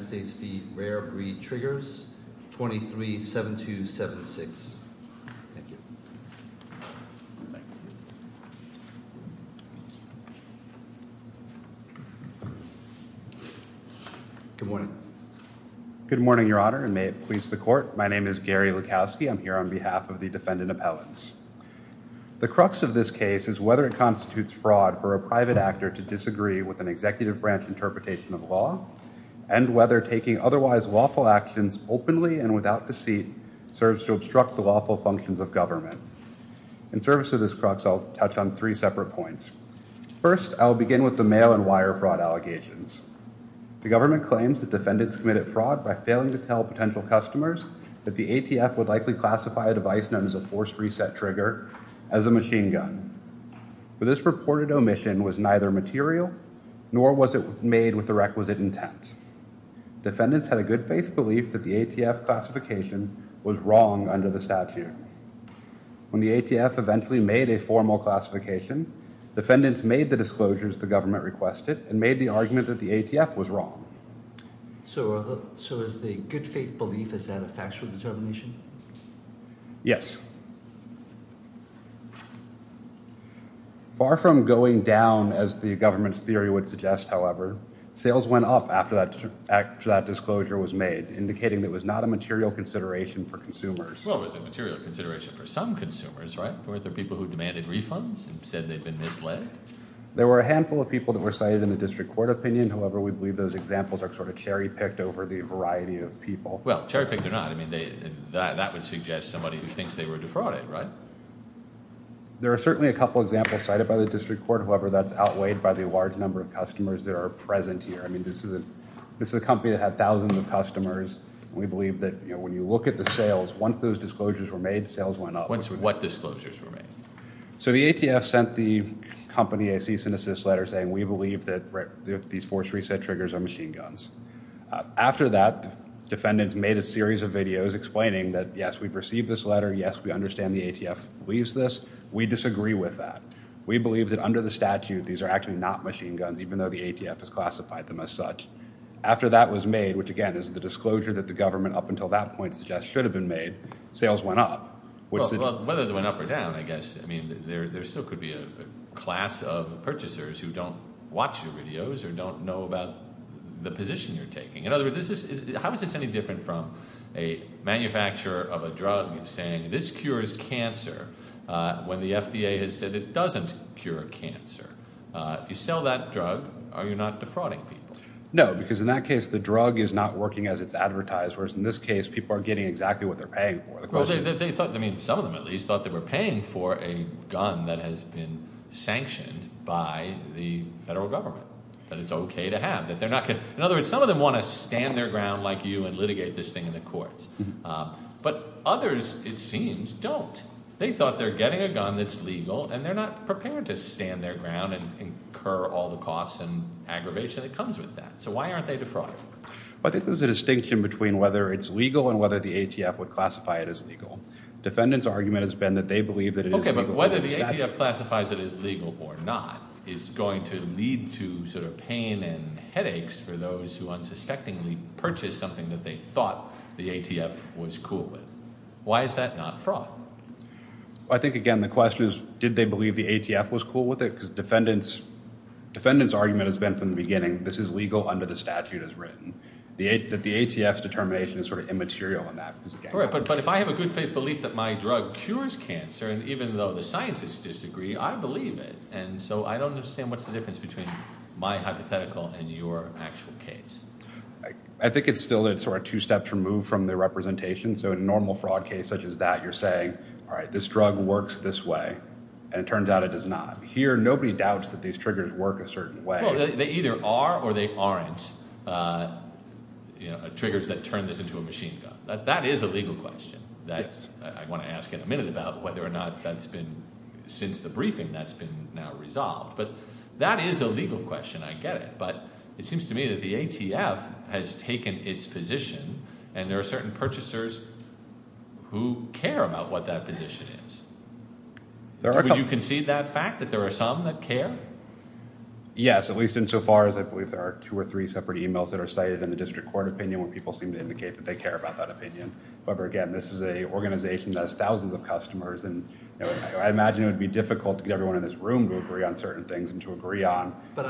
United States v. Rare Breed Triggers, 23-7276 Good morning. Good morning, Your Honor and may it please the court. My name is Gary Lukowski. I'm here on behalf of the defendant appellants. The crux of this case is whether it constitutes fraud for a private actor to disagree with an executive branch interpretation of law and whether taking otherwise lawful actions openly and without deceit serves to obstruct the lawful functions of government. In service of this crux, I'll touch on three separate points. First, I'll begin with the mail and wire fraud allegations. The government claims that defendants committed fraud by failing to tell potential customers that the ATF would likely classify a device known as a forced reset trigger as a machine gun. But this reported omission was neither material nor was it made with the requisite intent. Defendants had a good faith belief that the ATF classification was wrong under the statute. When the ATF eventually made a formal classification, defendants made the disclosures the government requested and made the argument that the ATF was wrong. So is the good faith belief, is that a factual determination? Yes. Far from going down as the government's theory would suggest, however, sales went up after that disclosure was made, indicating it was not a material consideration for consumers. Well, it was a material consideration for some consumers, right? Were there people who demanded refunds and said they'd been misled? There were a handful of people that were cited in the district court opinion. However, we believe those examples are sort of cherry-picked over the variety of people. Well, cherry-picked or not, that would suggest somebody who thinks they were defrauded, right? There are certainly a couple examples cited by the district court. However, that's outweighed by the large number of customers that are present here. I mean, this is a company that had thousands of customers. We believe that when you look at the sales, once those disclosures were made, sales went up. What disclosures were made? So the ATF sent the company a cease and desist letter saying, we believe that these forced reset triggers are machine guns. After that, defendants made a series of videos explaining that, yes, we've received this letter. Yes, we understand the ATF believes this. We disagree with that. We believe that under the statute, these are actually not machine guns, even though the ATF has classified them as such. After that was made, which, again, is the disclosure that the government up until that point suggests should have been made, sales went up. Well, whether they went up or down, I guess, I mean, there still could be a class of purchasers who don't watch your videos or don't know about the position you're taking. In other words, how is this any different from a manufacturer of a drug saying, this cures cancer, when the FDA has said it doesn't cure cancer? If you sell that drug, are you not defrauding people? No, because in that case, the drug is not working as it's advertised, whereas in this case, people are getting exactly what they're paying for. Well, they thought, I mean, some of them, at least, thought they were paying for a gun that has been sanctioned by the federal government, that it's OK to have. In other words, some of them want to stand their ground like you and litigate this thing in the courts. But others, it seems, don't. They thought they're getting a gun that's legal, and they're not prepared to stand their ground and incur all the costs and aggravation that comes with that. So why aren't they defrauding? Well, I think there's a distinction between whether it's legal and whether the ATF would classify it as legal. Defendants' argument has been that they believe that it is legal under the statute. But whether the ATF classifies it as legal or not is going to lead to pain and headaches for those who unsuspectingly purchased something that they thought the ATF was cool with. Why is that not fraud? Well, I think, again, the question is, did they believe the ATF was cool with it? Because defendants' argument has been from the beginning, this is legal under the statute as written. The ATF's determination is immaterial on that. But if I have a good faith belief that my drug cures cancer, and even though the scientists disagree, I believe it. And so I don't understand what's the difference between my hypothetical and your actual case. I think it's still sort of two steps removed from the representation. So in a normal fraud case such as that, you're saying, all right, this drug works this way, and it turns out it does not. Here, nobody doubts that these triggers work a certain way. No, they either are or they aren't triggers that turn this into a machine gun. That is a legal question that I want to ask in a minute about whether or not that's been, since the briefing, that's been now resolved. But that is a legal question, I get it. But it seems to me that the ATF has taken its position, and there are certain purchasers who care about what that position is. Would you concede that fact, that there are some that care? Yes, at least insofar as I believe there are two or three separate emails that are cited in the district court opinion where people seem to indicate that they care about that opinion. However, again, this is an organization that has thousands of customers, and I imagine it would be difficult to get everyone in this room to agree on certain things and to agree on... But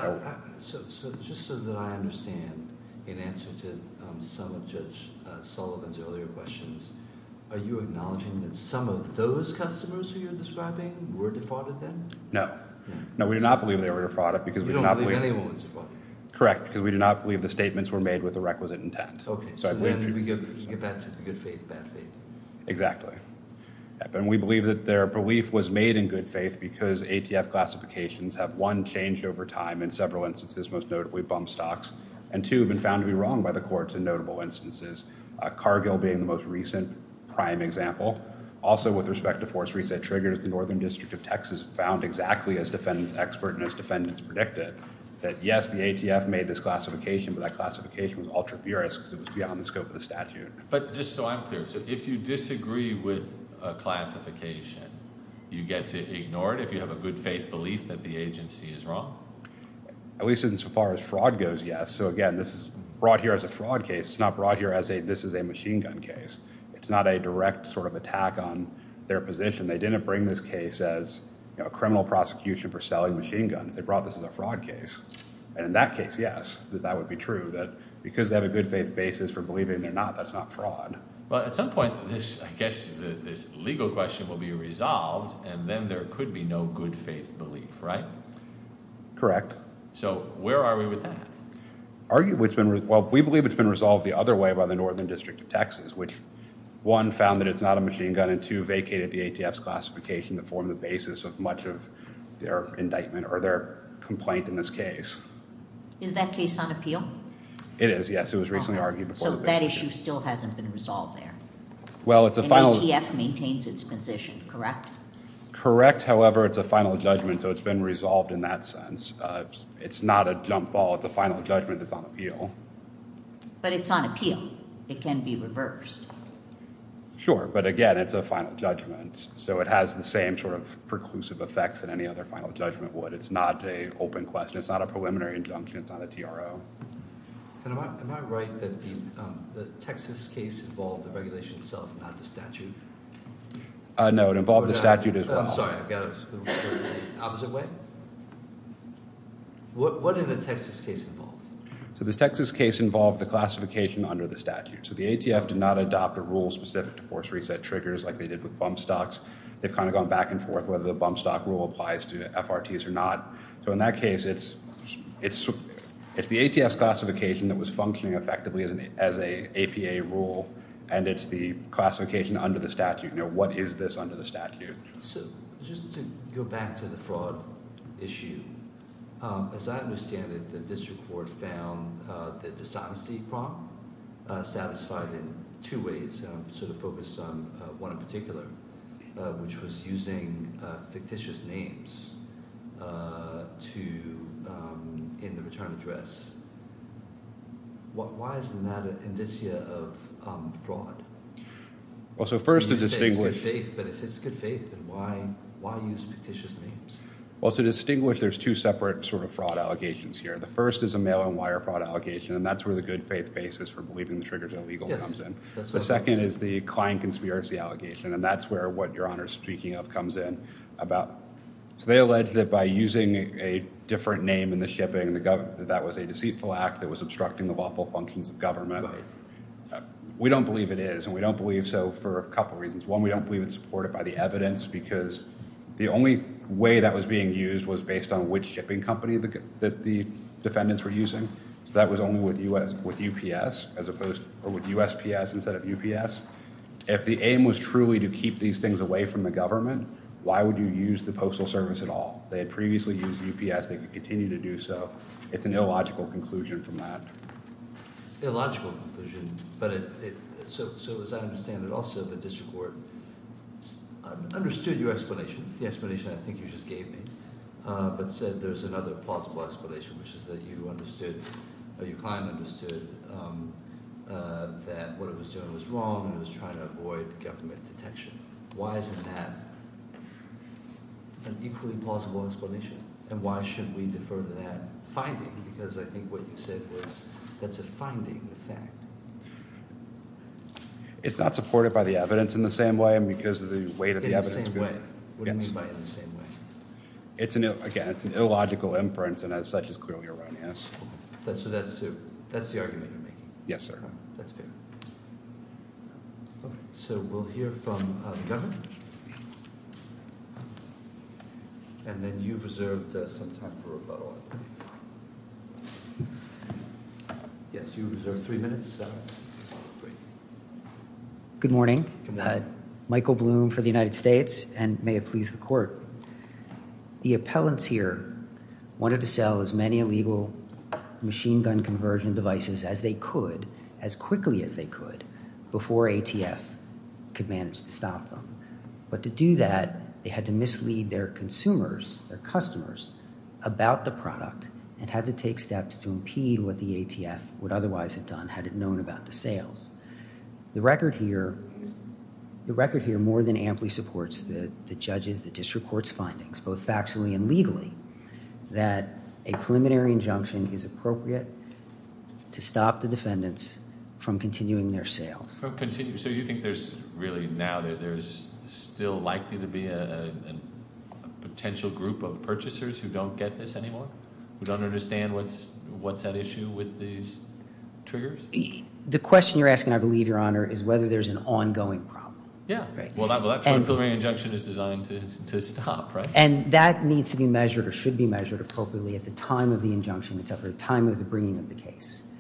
just so that I understand, in answer to some of Judge Sullivan's earlier questions, are you acknowledging that some of those customers who you're describing were defrauded then? No. No, we do not believe they were defrauded because... You don't believe anyone was defrauded? Correct, because we do not believe the statements were made with a requisite intent. Okay, so when we get back to the good faith, bad faith. Exactly. And we believe that their belief was made in good faith because ATF classifications have, one, changed over time in several instances, most notably bump stocks, and two, have been found to be wrong by the courts in notable instances, Cargill being the most recent prime example. Also, with respect to force reset triggers, the Northern District of Texas found exactly, as defendants expert and as defendants predicted, that yes, the ATF made this classification, but that classification was ultra-furious because it was beyond the scope of the statute. But just so I'm clear, so if you disagree with a classification, you get to ignore it if you have a good faith belief that the agency is wrong? At least insofar as fraud goes, yes. So again, this is brought here as a fraud case. It's not brought here as a, this is a machine gun case. It's not a direct sort of attack on their position. They didn't bring this case as a criminal prosecution for selling machine guns. They brought this as a fraud case. And in that case, yes, that would be true, that because they have a good faith basis for believing they're not, that's not fraud. Well, at some point, I guess this legal question will be resolved, and then there could be no good faith belief, right? Correct. So where are we with that? Well, we believe it's been resolved the other way by the Northern District of Texas, which one, found that it's not a machine gun, and two, vacated the ATF's classification to form the basis of much of their indictment or their complaint in this case. Is that case on appeal? It is, yes. It was recently argued before the vacation. So that issue still hasn't been resolved there? Well, it's a final... And ATF maintains its position, correct? Correct. However, it's a final judgment, so it's been resolved in that sense. It's not a jump ball. It's a final judgment that's on appeal. But it's on appeal. It can be reversed. Sure, but again, it's a final judgment, so it has the same sort of preclusive effects that any other final judgment would. It's not an open question. It's not a preliminary injunction. It's not a TRO. Am I right that the Texas case involved the regulation itself, not the statute? No, it involved the statute as well. I'm sorry. I've got it the opposite way. What did the Texas case involve? So the Texas case involved the classification under the statute. So the ATF did not adopt a rule specific to force reset triggers like they did with bump stocks. They've kind of gone back and forth whether the bump stock rule applies to FRTs or not. So in that case, it's the ATF's classification that was functioning effectively as an APA rule, and it's the classification under the statute. What is this under the statute? So just to go back to the fraud issue, as I understand it, the district court found the dishonesty prompt satisfied in two ways, sort of focused on one in particular, which was using fictitious names in the return address. Why isn't that an indicia of fraud? You say it's good faith, but if it's good faith, then why use fictitious names? Well, to distinguish, there's two separate sort of fraud allegations here. The first is a mail and wire fraud allegation, and that's where the good faith basis for believing the triggers are illegal comes in. The second is the client conspiracy allegation, and that's where what Your Honor is speaking of comes in. So they allege that by using a different name in the shipping, that that was a deceitful act that was obstructing the lawful functions of government. We don't believe it is, and we don't believe so for a couple of reasons. One, we don't believe it's supported by the evidence, because the only way that was being used was based on which shipping company that the defendants were using. So that was only with UPS, or with USPS instead of UPS. If the aim was truly to keep these things away from the government, why would you use the Postal Service at all? They had previously used UPS. They could continue to do so. It's an illogical conclusion from that. Illogical conclusion, but so as I understand it also, the district court understood your explanation, the explanation I think you just gave me, but said there's another plausible explanation, which is that you understood or your client understood that what it was doing was wrong and it was trying to avoid government detection. Why isn't that an equally plausible explanation, and why shouldn't we defer to that finding? Because I think what you said was that's a finding, a fact. It's not supported by the evidence in the same way, because of the weight of the evidence. In the same way. What do you mean by in the same way? Again, it's an illogical inference, and as such is clearly erroneous. So that's the argument you're making? Yes, sir. That's fair. So we'll hear from the governor, and then you've reserved some time for rebuttal. Yes, you've reserved three minutes. Good morning. Michael Bloom for the United States, and may it please the court. The appellants here wanted to sell as many illegal machine gun conversion devices as they could, as quickly as they could, before ATF could manage to stop them. But to do that, they had to mislead their consumers, their customers, about the product and had to take steps to impede what the ATF would otherwise have done, had it known about the sales. The record here more than amply supports the judges, the district court's findings, both factually and legally, that a preliminary injunction is appropriate to stop the defendants from continuing their sales. So you think there's really now, there's still likely to be a potential group of purchasers who don't get this anymore? Who don't understand what's at issue with these triggers? The question you're asking, I believe, Your Honor, is whether there's an ongoing problem. Yeah. Well, that's when a preliminary injunction is designed to stop, right? And that needs to be measured or should be measured appropriately at the time of the injunction, except for the time of the bringing of the case,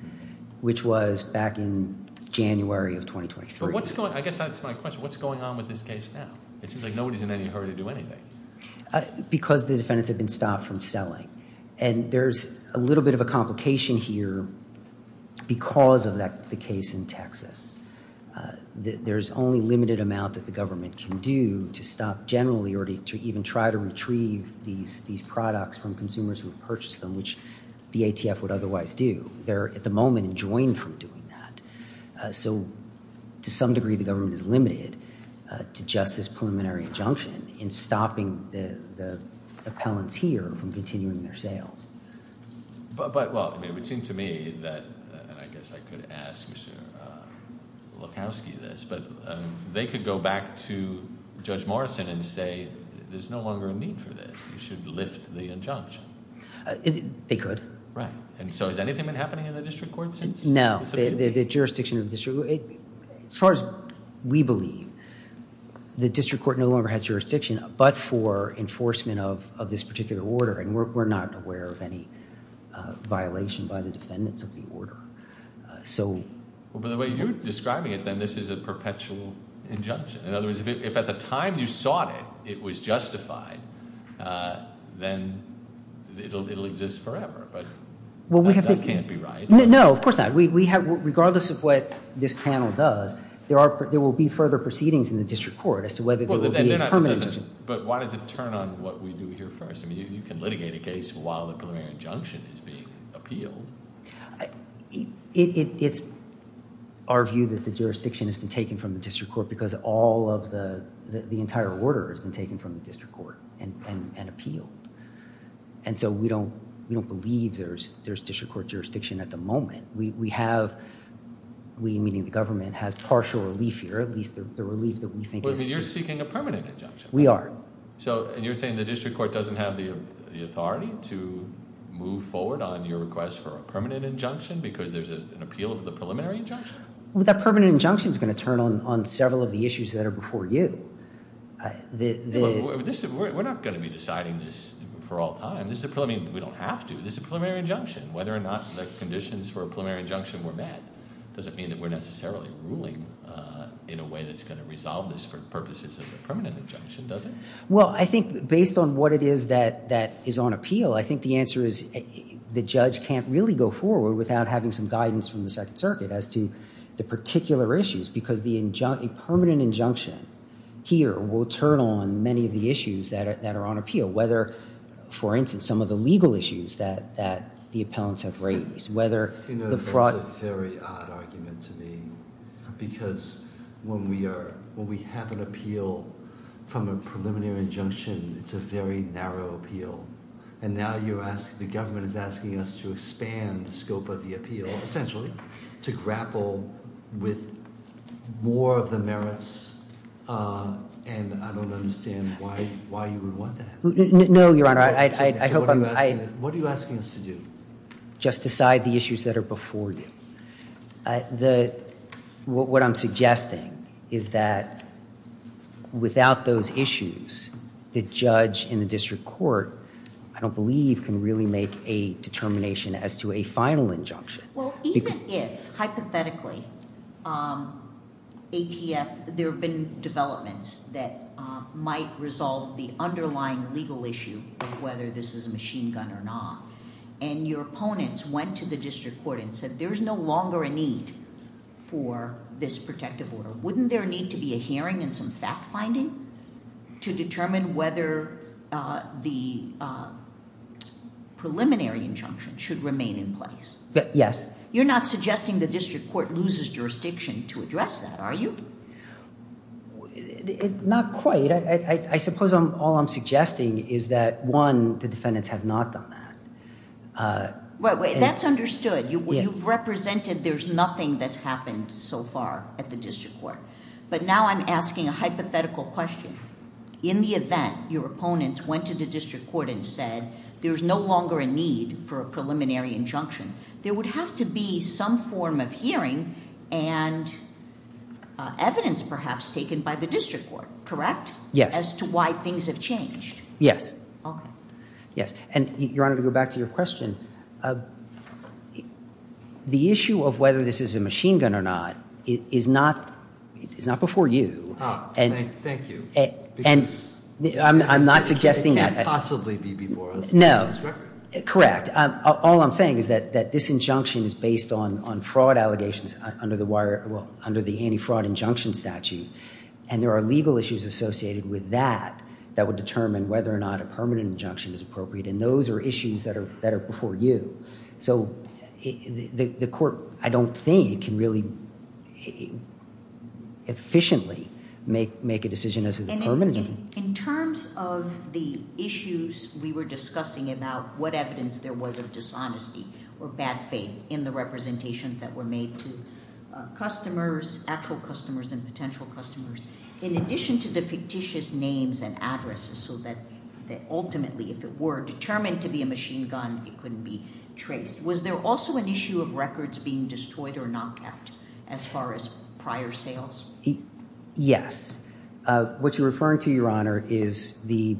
which was back in January of 2023. I guess that's my question. What's going on with this case now? It seems like nobody's in any hurry to do anything. Because the defendants have been stopped from selling. And there's a little bit of a complication here because of the case in Texas. There's only a limited amount that the government can do to stop generally or to even try to retrieve these products from consumers who have purchased them, which the ATF would otherwise do. They're, at the moment, enjoined from doing that. So to some degree, the government is limited to just this preliminary injunction in stopping the appellants here from continuing their sales. But, well, it would seem to me that, and I guess I could ask Mr. Lukowski this, but they could go back to Judge Morrison and say there's no longer a need for this. You should lift the injunction. They could. Right. And so has anything been happening in the district court since? No. The jurisdiction of the district court. As far as we believe, the district court no longer has jurisdiction but for enforcement of this particular order. And we're not aware of any violation by the defendants of the order. By the way, you're describing it then this is a perpetual injunction. In other words, if at the time you sought it, it was justified, then it'll exist forever. But that can't be right. No, of course not. Regardless of what this panel does, there will be further proceedings in the district court as to whether there will be a permanent injunction. But why does it turn on what we do here first? I mean, you can litigate a case while the preliminary injunction is being appealed. It's our view that the jurisdiction has been taken from the district court because all of the entire order has been taken from the district court and appealed. And so we don't believe there's district court jurisdiction at the moment. We have, we meaning the government, has partial relief here, at least the relief that we think is. You're seeking a permanent injunction. We are. And you're saying the district court doesn't have the authority to move forward on your request for a permanent injunction because there's an appeal of the preliminary injunction? Well, that permanent injunction is going to turn on several of the issues that are before you. We're not going to be deciding this for all time. I mean, we don't have to. This is a preliminary injunction. Whether or not the conditions for a preliminary injunction were met doesn't mean that we're necessarily ruling in a way that's going to resolve this for purposes of a permanent injunction, does it? Well, I think based on what it is that is on appeal, I think the answer is the judge can't really go forward without having some guidance from the Second Circuit as to the particular issues because a permanent injunction here will turn on many of the issues that are on appeal, whether, for instance, some of the legal issues that the appellants have raised. You know, that's a very odd argument to me because when we have an appeal from a preliminary injunction, it's a very narrow appeal. And now the government is asking us to expand the scope of the appeal, essentially, to grapple with more of the merits, and I don't understand why you would want that. No, Your Honor. What are you asking us to do? Just decide the issues that are before you. What I'm suggesting is that without those issues, the judge in the district court, I don't believe, can really make a determination as to a final injunction. Well, even if, hypothetically, ATF, there have been developments that might resolve the underlying legal issue of whether this is a machine gun or not, and your opponents went to the district court and said there is no longer a need for this protective order, wouldn't there need to be a hearing and some fact-finding to determine whether the preliminary injunction should remain in place? Yes. You're not suggesting the district court loses jurisdiction to address that, are you? Not quite. I suppose all I'm suggesting is that, one, the defendants have not done that. That's understood. You've represented there's nothing that's happened so far at the district court. But now I'm asking a hypothetical question. In the event your opponents went to the district court and said there's no longer a need for a preliminary injunction, there would have to be some form of hearing and evidence perhaps taken by the district court, correct? Yes. As to why things have changed? Yes. Okay. Yes. And, Your Honor, to go back to your question, the issue of whether this is a machine gun or not is not before you. Thank you. I'm not suggesting that. It can't possibly be before us. No. Correct. All I'm saying is that this injunction is based on fraud allegations under the anti-fraud injunction statute. And there are legal issues associated with that that would determine whether or not a permanent injunction is appropriate. And those are issues that are before you. So the court, I don't think, can really efficiently make a decision as to the permanent injunction. In terms of the issues we were discussing about what evidence there was of dishonesty or bad faith in the representation that were made to customers, actual customers and potential customers, in addition to the fictitious names and addresses so that ultimately if it were determined to be a machine gun, it couldn't be traced, was there also an issue of records being destroyed or knocked out as far as prior sales? What you're referring to, Your Honor, is the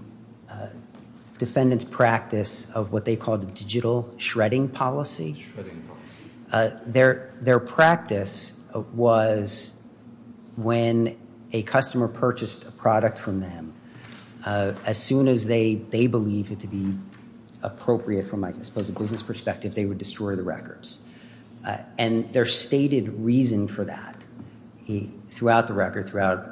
defendant's practice of what they called a digital shredding policy. Shredding policy. Their practice was when a customer purchased a product from them, as soon as they believed it to be appropriate from, I suppose, a business perspective, they would destroy the records. And their stated reason for that throughout the record, throughout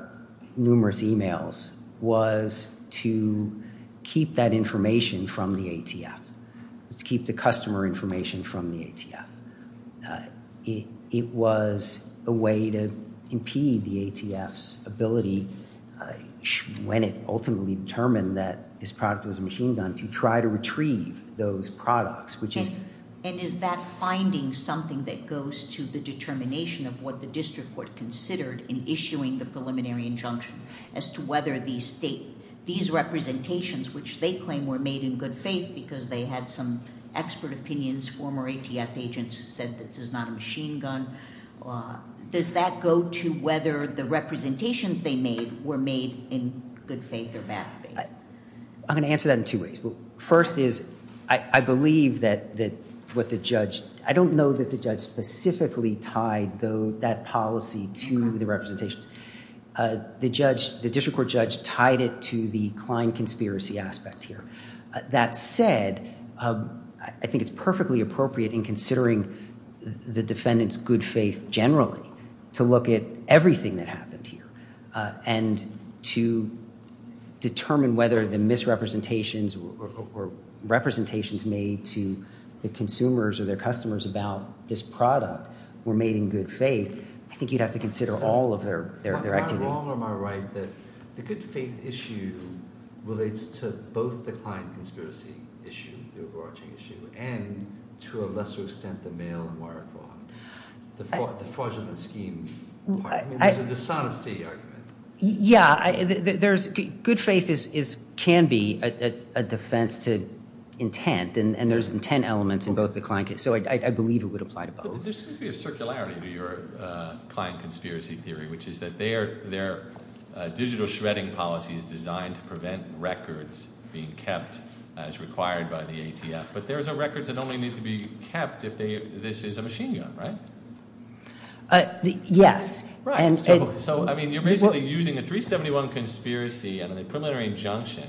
numerous emails, was to keep that information from the ATF, to keep the customer information from the ATF. It was a way to impede the ATF's ability, when it ultimately determined that this product was a machine gun, to try to retrieve those products. And is that finding something that goes to the determination of what the district court considered in issuing the preliminary injunction, as to whether these representations, which they claim were made in good faith because they had some expert opinions, former ATF agents said this is not a machine gun, does that go to whether the representations they made were made in good faith or bad faith? I'm going to answer that in two ways. First is, I believe that what the judge, I don't know that the judge specifically tied that policy to the representations. The judge, the district court judge tied it to the Klein conspiracy aspect here. That said, I think it's perfectly appropriate in considering the defendant's good faith generally, to look at everything that happened here. And to determine whether the misrepresentations or representations made to the consumers or their customers about this product were made in good faith, I think you'd have to consider all of their activities. Am I wrong or am I right that the good faith issue relates to both the Klein conspiracy issue, the overarching issue, and to a lesser extent the mail and wire fraud, the fraudulent scheme. There's a dishonesty argument. Yeah, good faith can be a defense to intent, and there's intent elements in both the Klein case, so I believe it would apply to both. There seems to be a circularity to your Klein conspiracy theory, which is that their digital shredding policy is designed to prevent records being kept as required by the ATF. But there are records that only need to be kept if this is a machine gun, right? Yes. So, I mean, you're basically using the 371 conspiracy and a preliminary injunction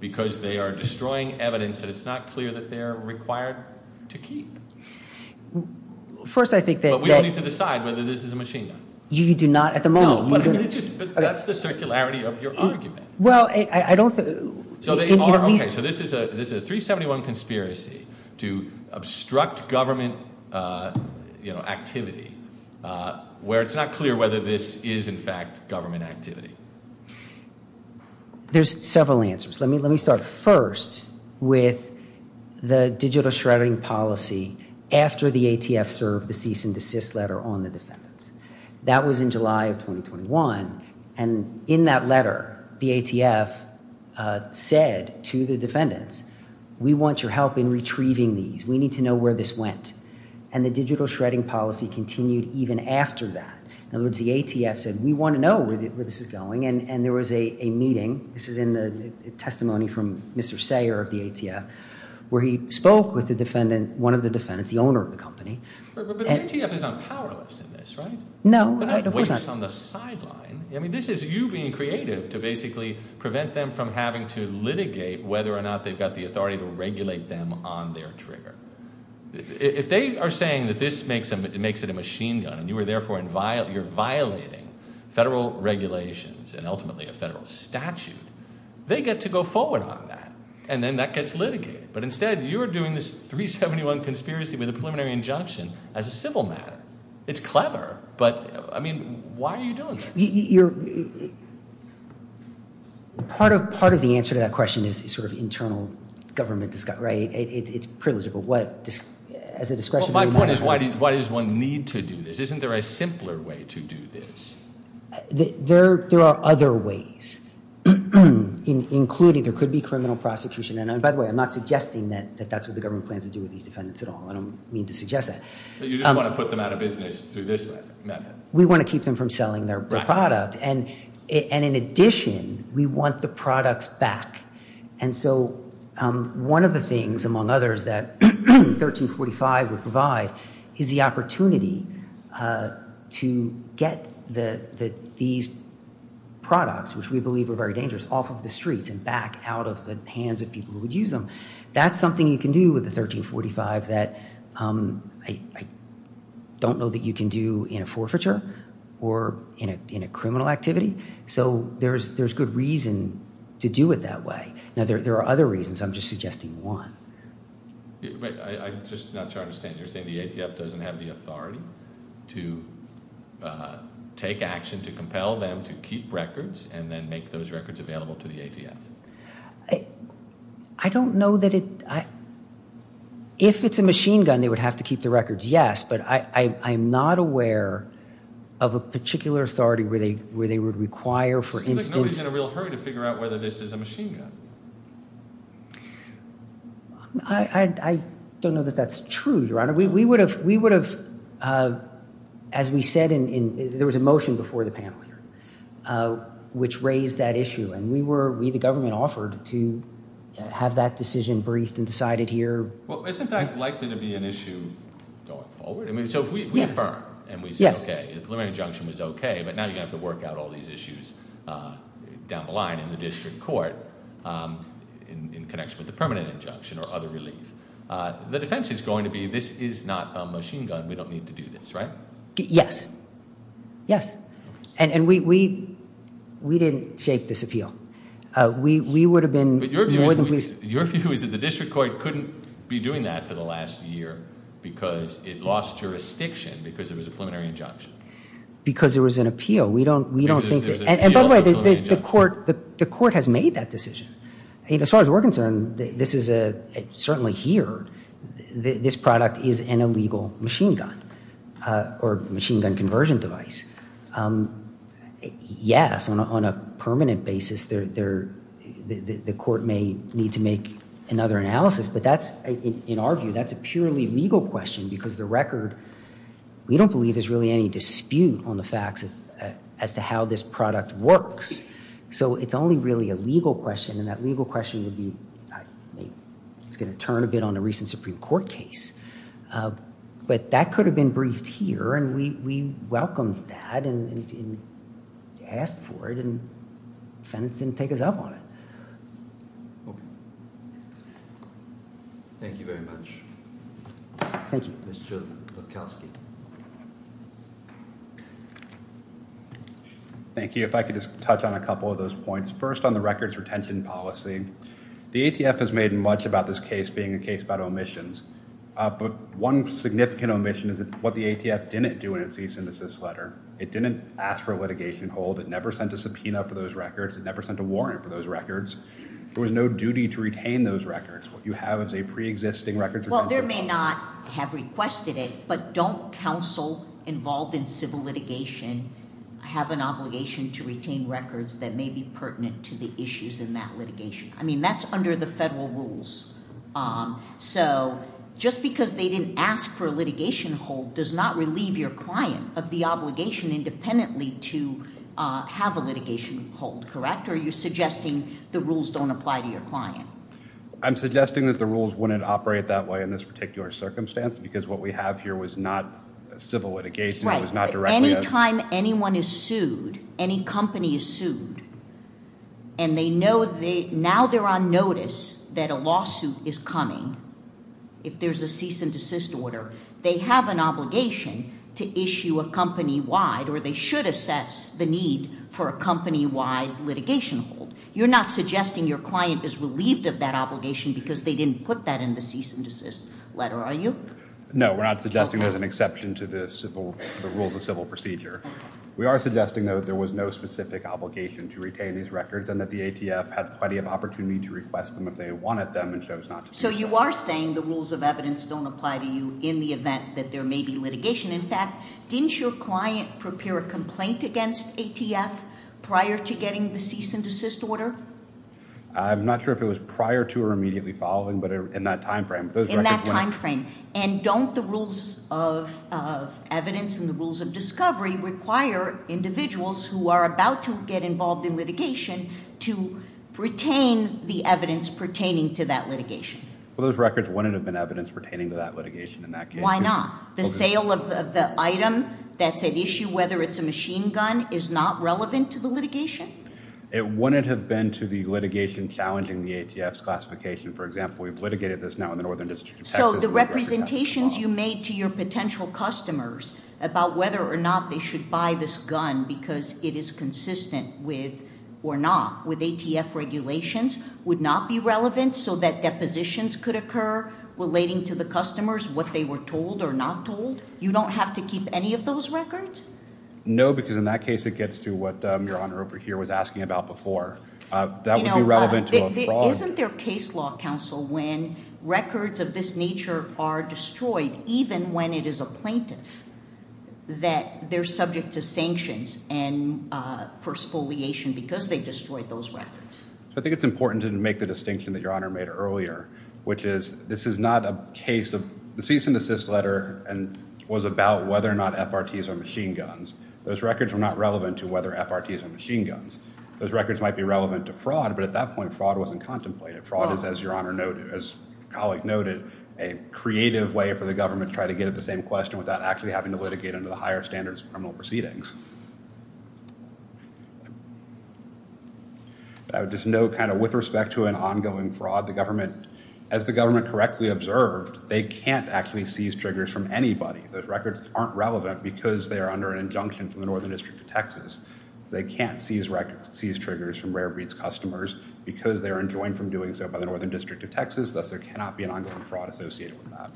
because they are destroying evidence that it's not clear that they're required to keep. First, I think that- But we don't need to decide whether this is a machine gun. You do not at the moment. No, but that's the circularity of your argument. Well, I don't think- Okay, so this is a 371 conspiracy to obstruct government activity where it's not clear whether this is, in fact, government activity. There's several answers. Let me start first with the digital shredding policy after the ATF served the cease and desist letter on the defendants. That was in July of 2021, and in that letter, the ATF said to the defendants, we want your help in retrieving these. We need to know where this went, and the digital shredding policy continued even after that. In other words, the ATF said, we want to know where this is going, and there was a meeting. This is in the testimony from Mr. Sayer of the ATF, where he spoke with one of the defendants, the owner of the company. But the ATF is unpowerless in this, right? No, of course not. That wastes on the sideline. I mean, this is you being creative to basically prevent them from having to litigate whether or not they've got the authority to regulate them on their trigger. If they are saying that this makes it a machine gun, and you're violating federal regulations and ultimately a federal statute, they get to go forward on that, and then that gets litigated. But instead, you're doing this 371 conspiracy with a preliminary injunction as a civil matter. It's clever, but, I mean, why are you doing this? Part of the answer to that question is sort of internal government, right? It's privilegeable. As a discretionary matter. My point is, why does one need to do this? Isn't there a simpler way to do this? There are other ways, including there could be criminal prosecution. And by the way, I'm not suggesting that that's what the government plans to do with these defendants at all. I don't mean to suggest that. But you just want to put them out of business through this method. We want to keep them from selling their product. And in addition, we want the products back. And so one of the things, among others, that 1345 would provide is the opportunity to get these products, which we believe are very dangerous, off of the streets and back out of the hands of people who would use them. That's something you can do with the 1345 that I don't know that you can do in a forfeiture or in a criminal activity. So there's good reason to do it that way. Now, there are other reasons. I'm just suggesting one. I'm just not sure I understand. You're saying the ATF doesn't have the authority to take action to compel them to keep records and then make those records available to the ATF? I don't know that it – if it's a machine gun, they would have to keep the records, yes. But I'm not aware of a particular authority where they would require, for instance – It seems like nobody's in a real hurry to figure out whether this is a machine gun. I don't know that that's true, Your Honor. We would have – as we said in – there was a motion before the panel here which raised that issue. And we were – we, the government, offered to have that decision briefed and decided here. Well, isn't that likely to be an issue going forward? So if we affirm and we say, okay, the preliminary injunction was okay, but now you're going to have to work out all these issues down the line in the district court in connection with the permanent injunction or other relief. The defense is going to be this is not a machine gun. We don't need to do this, right? Yes. Yes. And we didn't shape this appeal. We would have been more than pleased – But your view is that the district court couldn't be doing that for the last year because it lost jurisdiction because it was a preliminary injunction. Because there was an appeal. We don't think – Because there's an appeal to a preliminary injunction. And by the way, the court has made that decision. As far as we're concerned, this is a – certainly here, this product is an illegal machine gun or machine gun conversion device. Yes, on a permanent basis, the court may need to make another analysis. But that's – in our view, that's a purely legal question because the record – we don't believe there's really any dispute on the facts as to how this product works. So it's only really a legal question, and that legal question would be – it's going to turn a bit on a recent Supreme Court case. But that could have been briefed here, and we welcomed that and asked for it, and the defendant didn't take us up on it. Okay. Thank you very much. Thank you. Mr. Lukowski. Thank you. If I could just touch on a couple of those points. First, on the records retention policy, the ATF has made much about this case being a case about omissions. But one significant omission is what the ATF didn't do in its cease and desist letter. It didn't ask for a litigation hold. It never sent a subpoena for those records. It never sent a warrant for those records. There was no duty to retain those records. What you have is a preexisting records retention policy. Well, there may not have requested it, but don't counsel involved in civil litigation have an obligation to retain records that may be pertinent to the issues in that litigation? I mean that's under the federal rules. So just because they didn't ask for a litigation hold does not relieve your client of the obligation independently to have a litigation hold, correct? Or are you suggesting the rules don't apply to your client? I'm suggesting that the rules wouldn't operate that way in this particular circumstance because what we have here was not civil litigation. It was not directly a- Any time anyone is sued, any company is sued, and they know they now they're on notice that a lawsuit is coming, if there's a cease and desist order, they have an obligation to issue a company-wide or they should assess the need for a company-wide litigation hold. You're not suggesting your client is relieved of that obligation because they didn't put that in the cease and desist letter, are you? No, we're not suggesting there's an exception to the rules of civil procedure. We are suggesting, though, that there was no specific obligation to retain these records and that the ATF had plenty of opportunity to request them if they wanted them and chose not to- So you are saying the rules of evidence don't apply to you in the event that there may be litigation. In fact, didn't your client prepare a complaint against ATF prior to getting the cease and desist order? I'm not sure if it was prior to or immediately following, but in that time frame. In that time frame. And don't the rules of evidence and the rules of discovery require individuals who are about to get involved in litigation to retain the evidence pertaining to that litigation? Well, those records wouldn't have been evidence pertaining to that litigation in that case. Why not? The sale of the item that's at issue, whether it's a machine gun, is not relevant to the litigation? It wouldn't have been to the litigation challenging the ATF's classification. For example, we've litigated this now in the Northern District of Texas- So the representations you made to your potential customers about whether or not they should buy this gun because it is consistent with, or not, with ATF regulations would not be relevant so that depositions could occur relating to the customers, what they were told or not told? You don't have to keep any of those records? No, because in that case it gets to what Your Honor over here was asking about before. That would be relevant to a fraud- Isn't there case law, counsel, when records of this nature are destroyed, even when it is a plaintiff, that they're subject to sanctions for spoliation because they destroyed those records? I think it's important to make the distinction that Your Honor made earlier, which is this is not a case of- The cease and desist letter was about whether or not FRTs are machine guns. Those records were not relevant to whether FRTs are machine guns. Those records might be relevant to fraud, but at that point fraud wasn't contemplated. Fraud is, as Your Honor noted, as a colleague noted, a creative way for the government to try to get at the same question without actually having to litigate under the higher standards of criminal proceedings. I would just note, with respect to an ongoing fraud, as the government correctly observed, they can't actually seize triggers from anybody. Those records aren't relevant because they are under an injunction from the Northern District of Texas. They can't seize triggers from rare breeds customers because they are enjoined from doing so by the Northern District of Texas. Thus, there cannot be an ongoing fraud associated with that.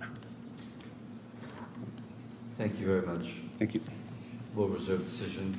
Thank you very much. Thank you. We'll reserve the decision.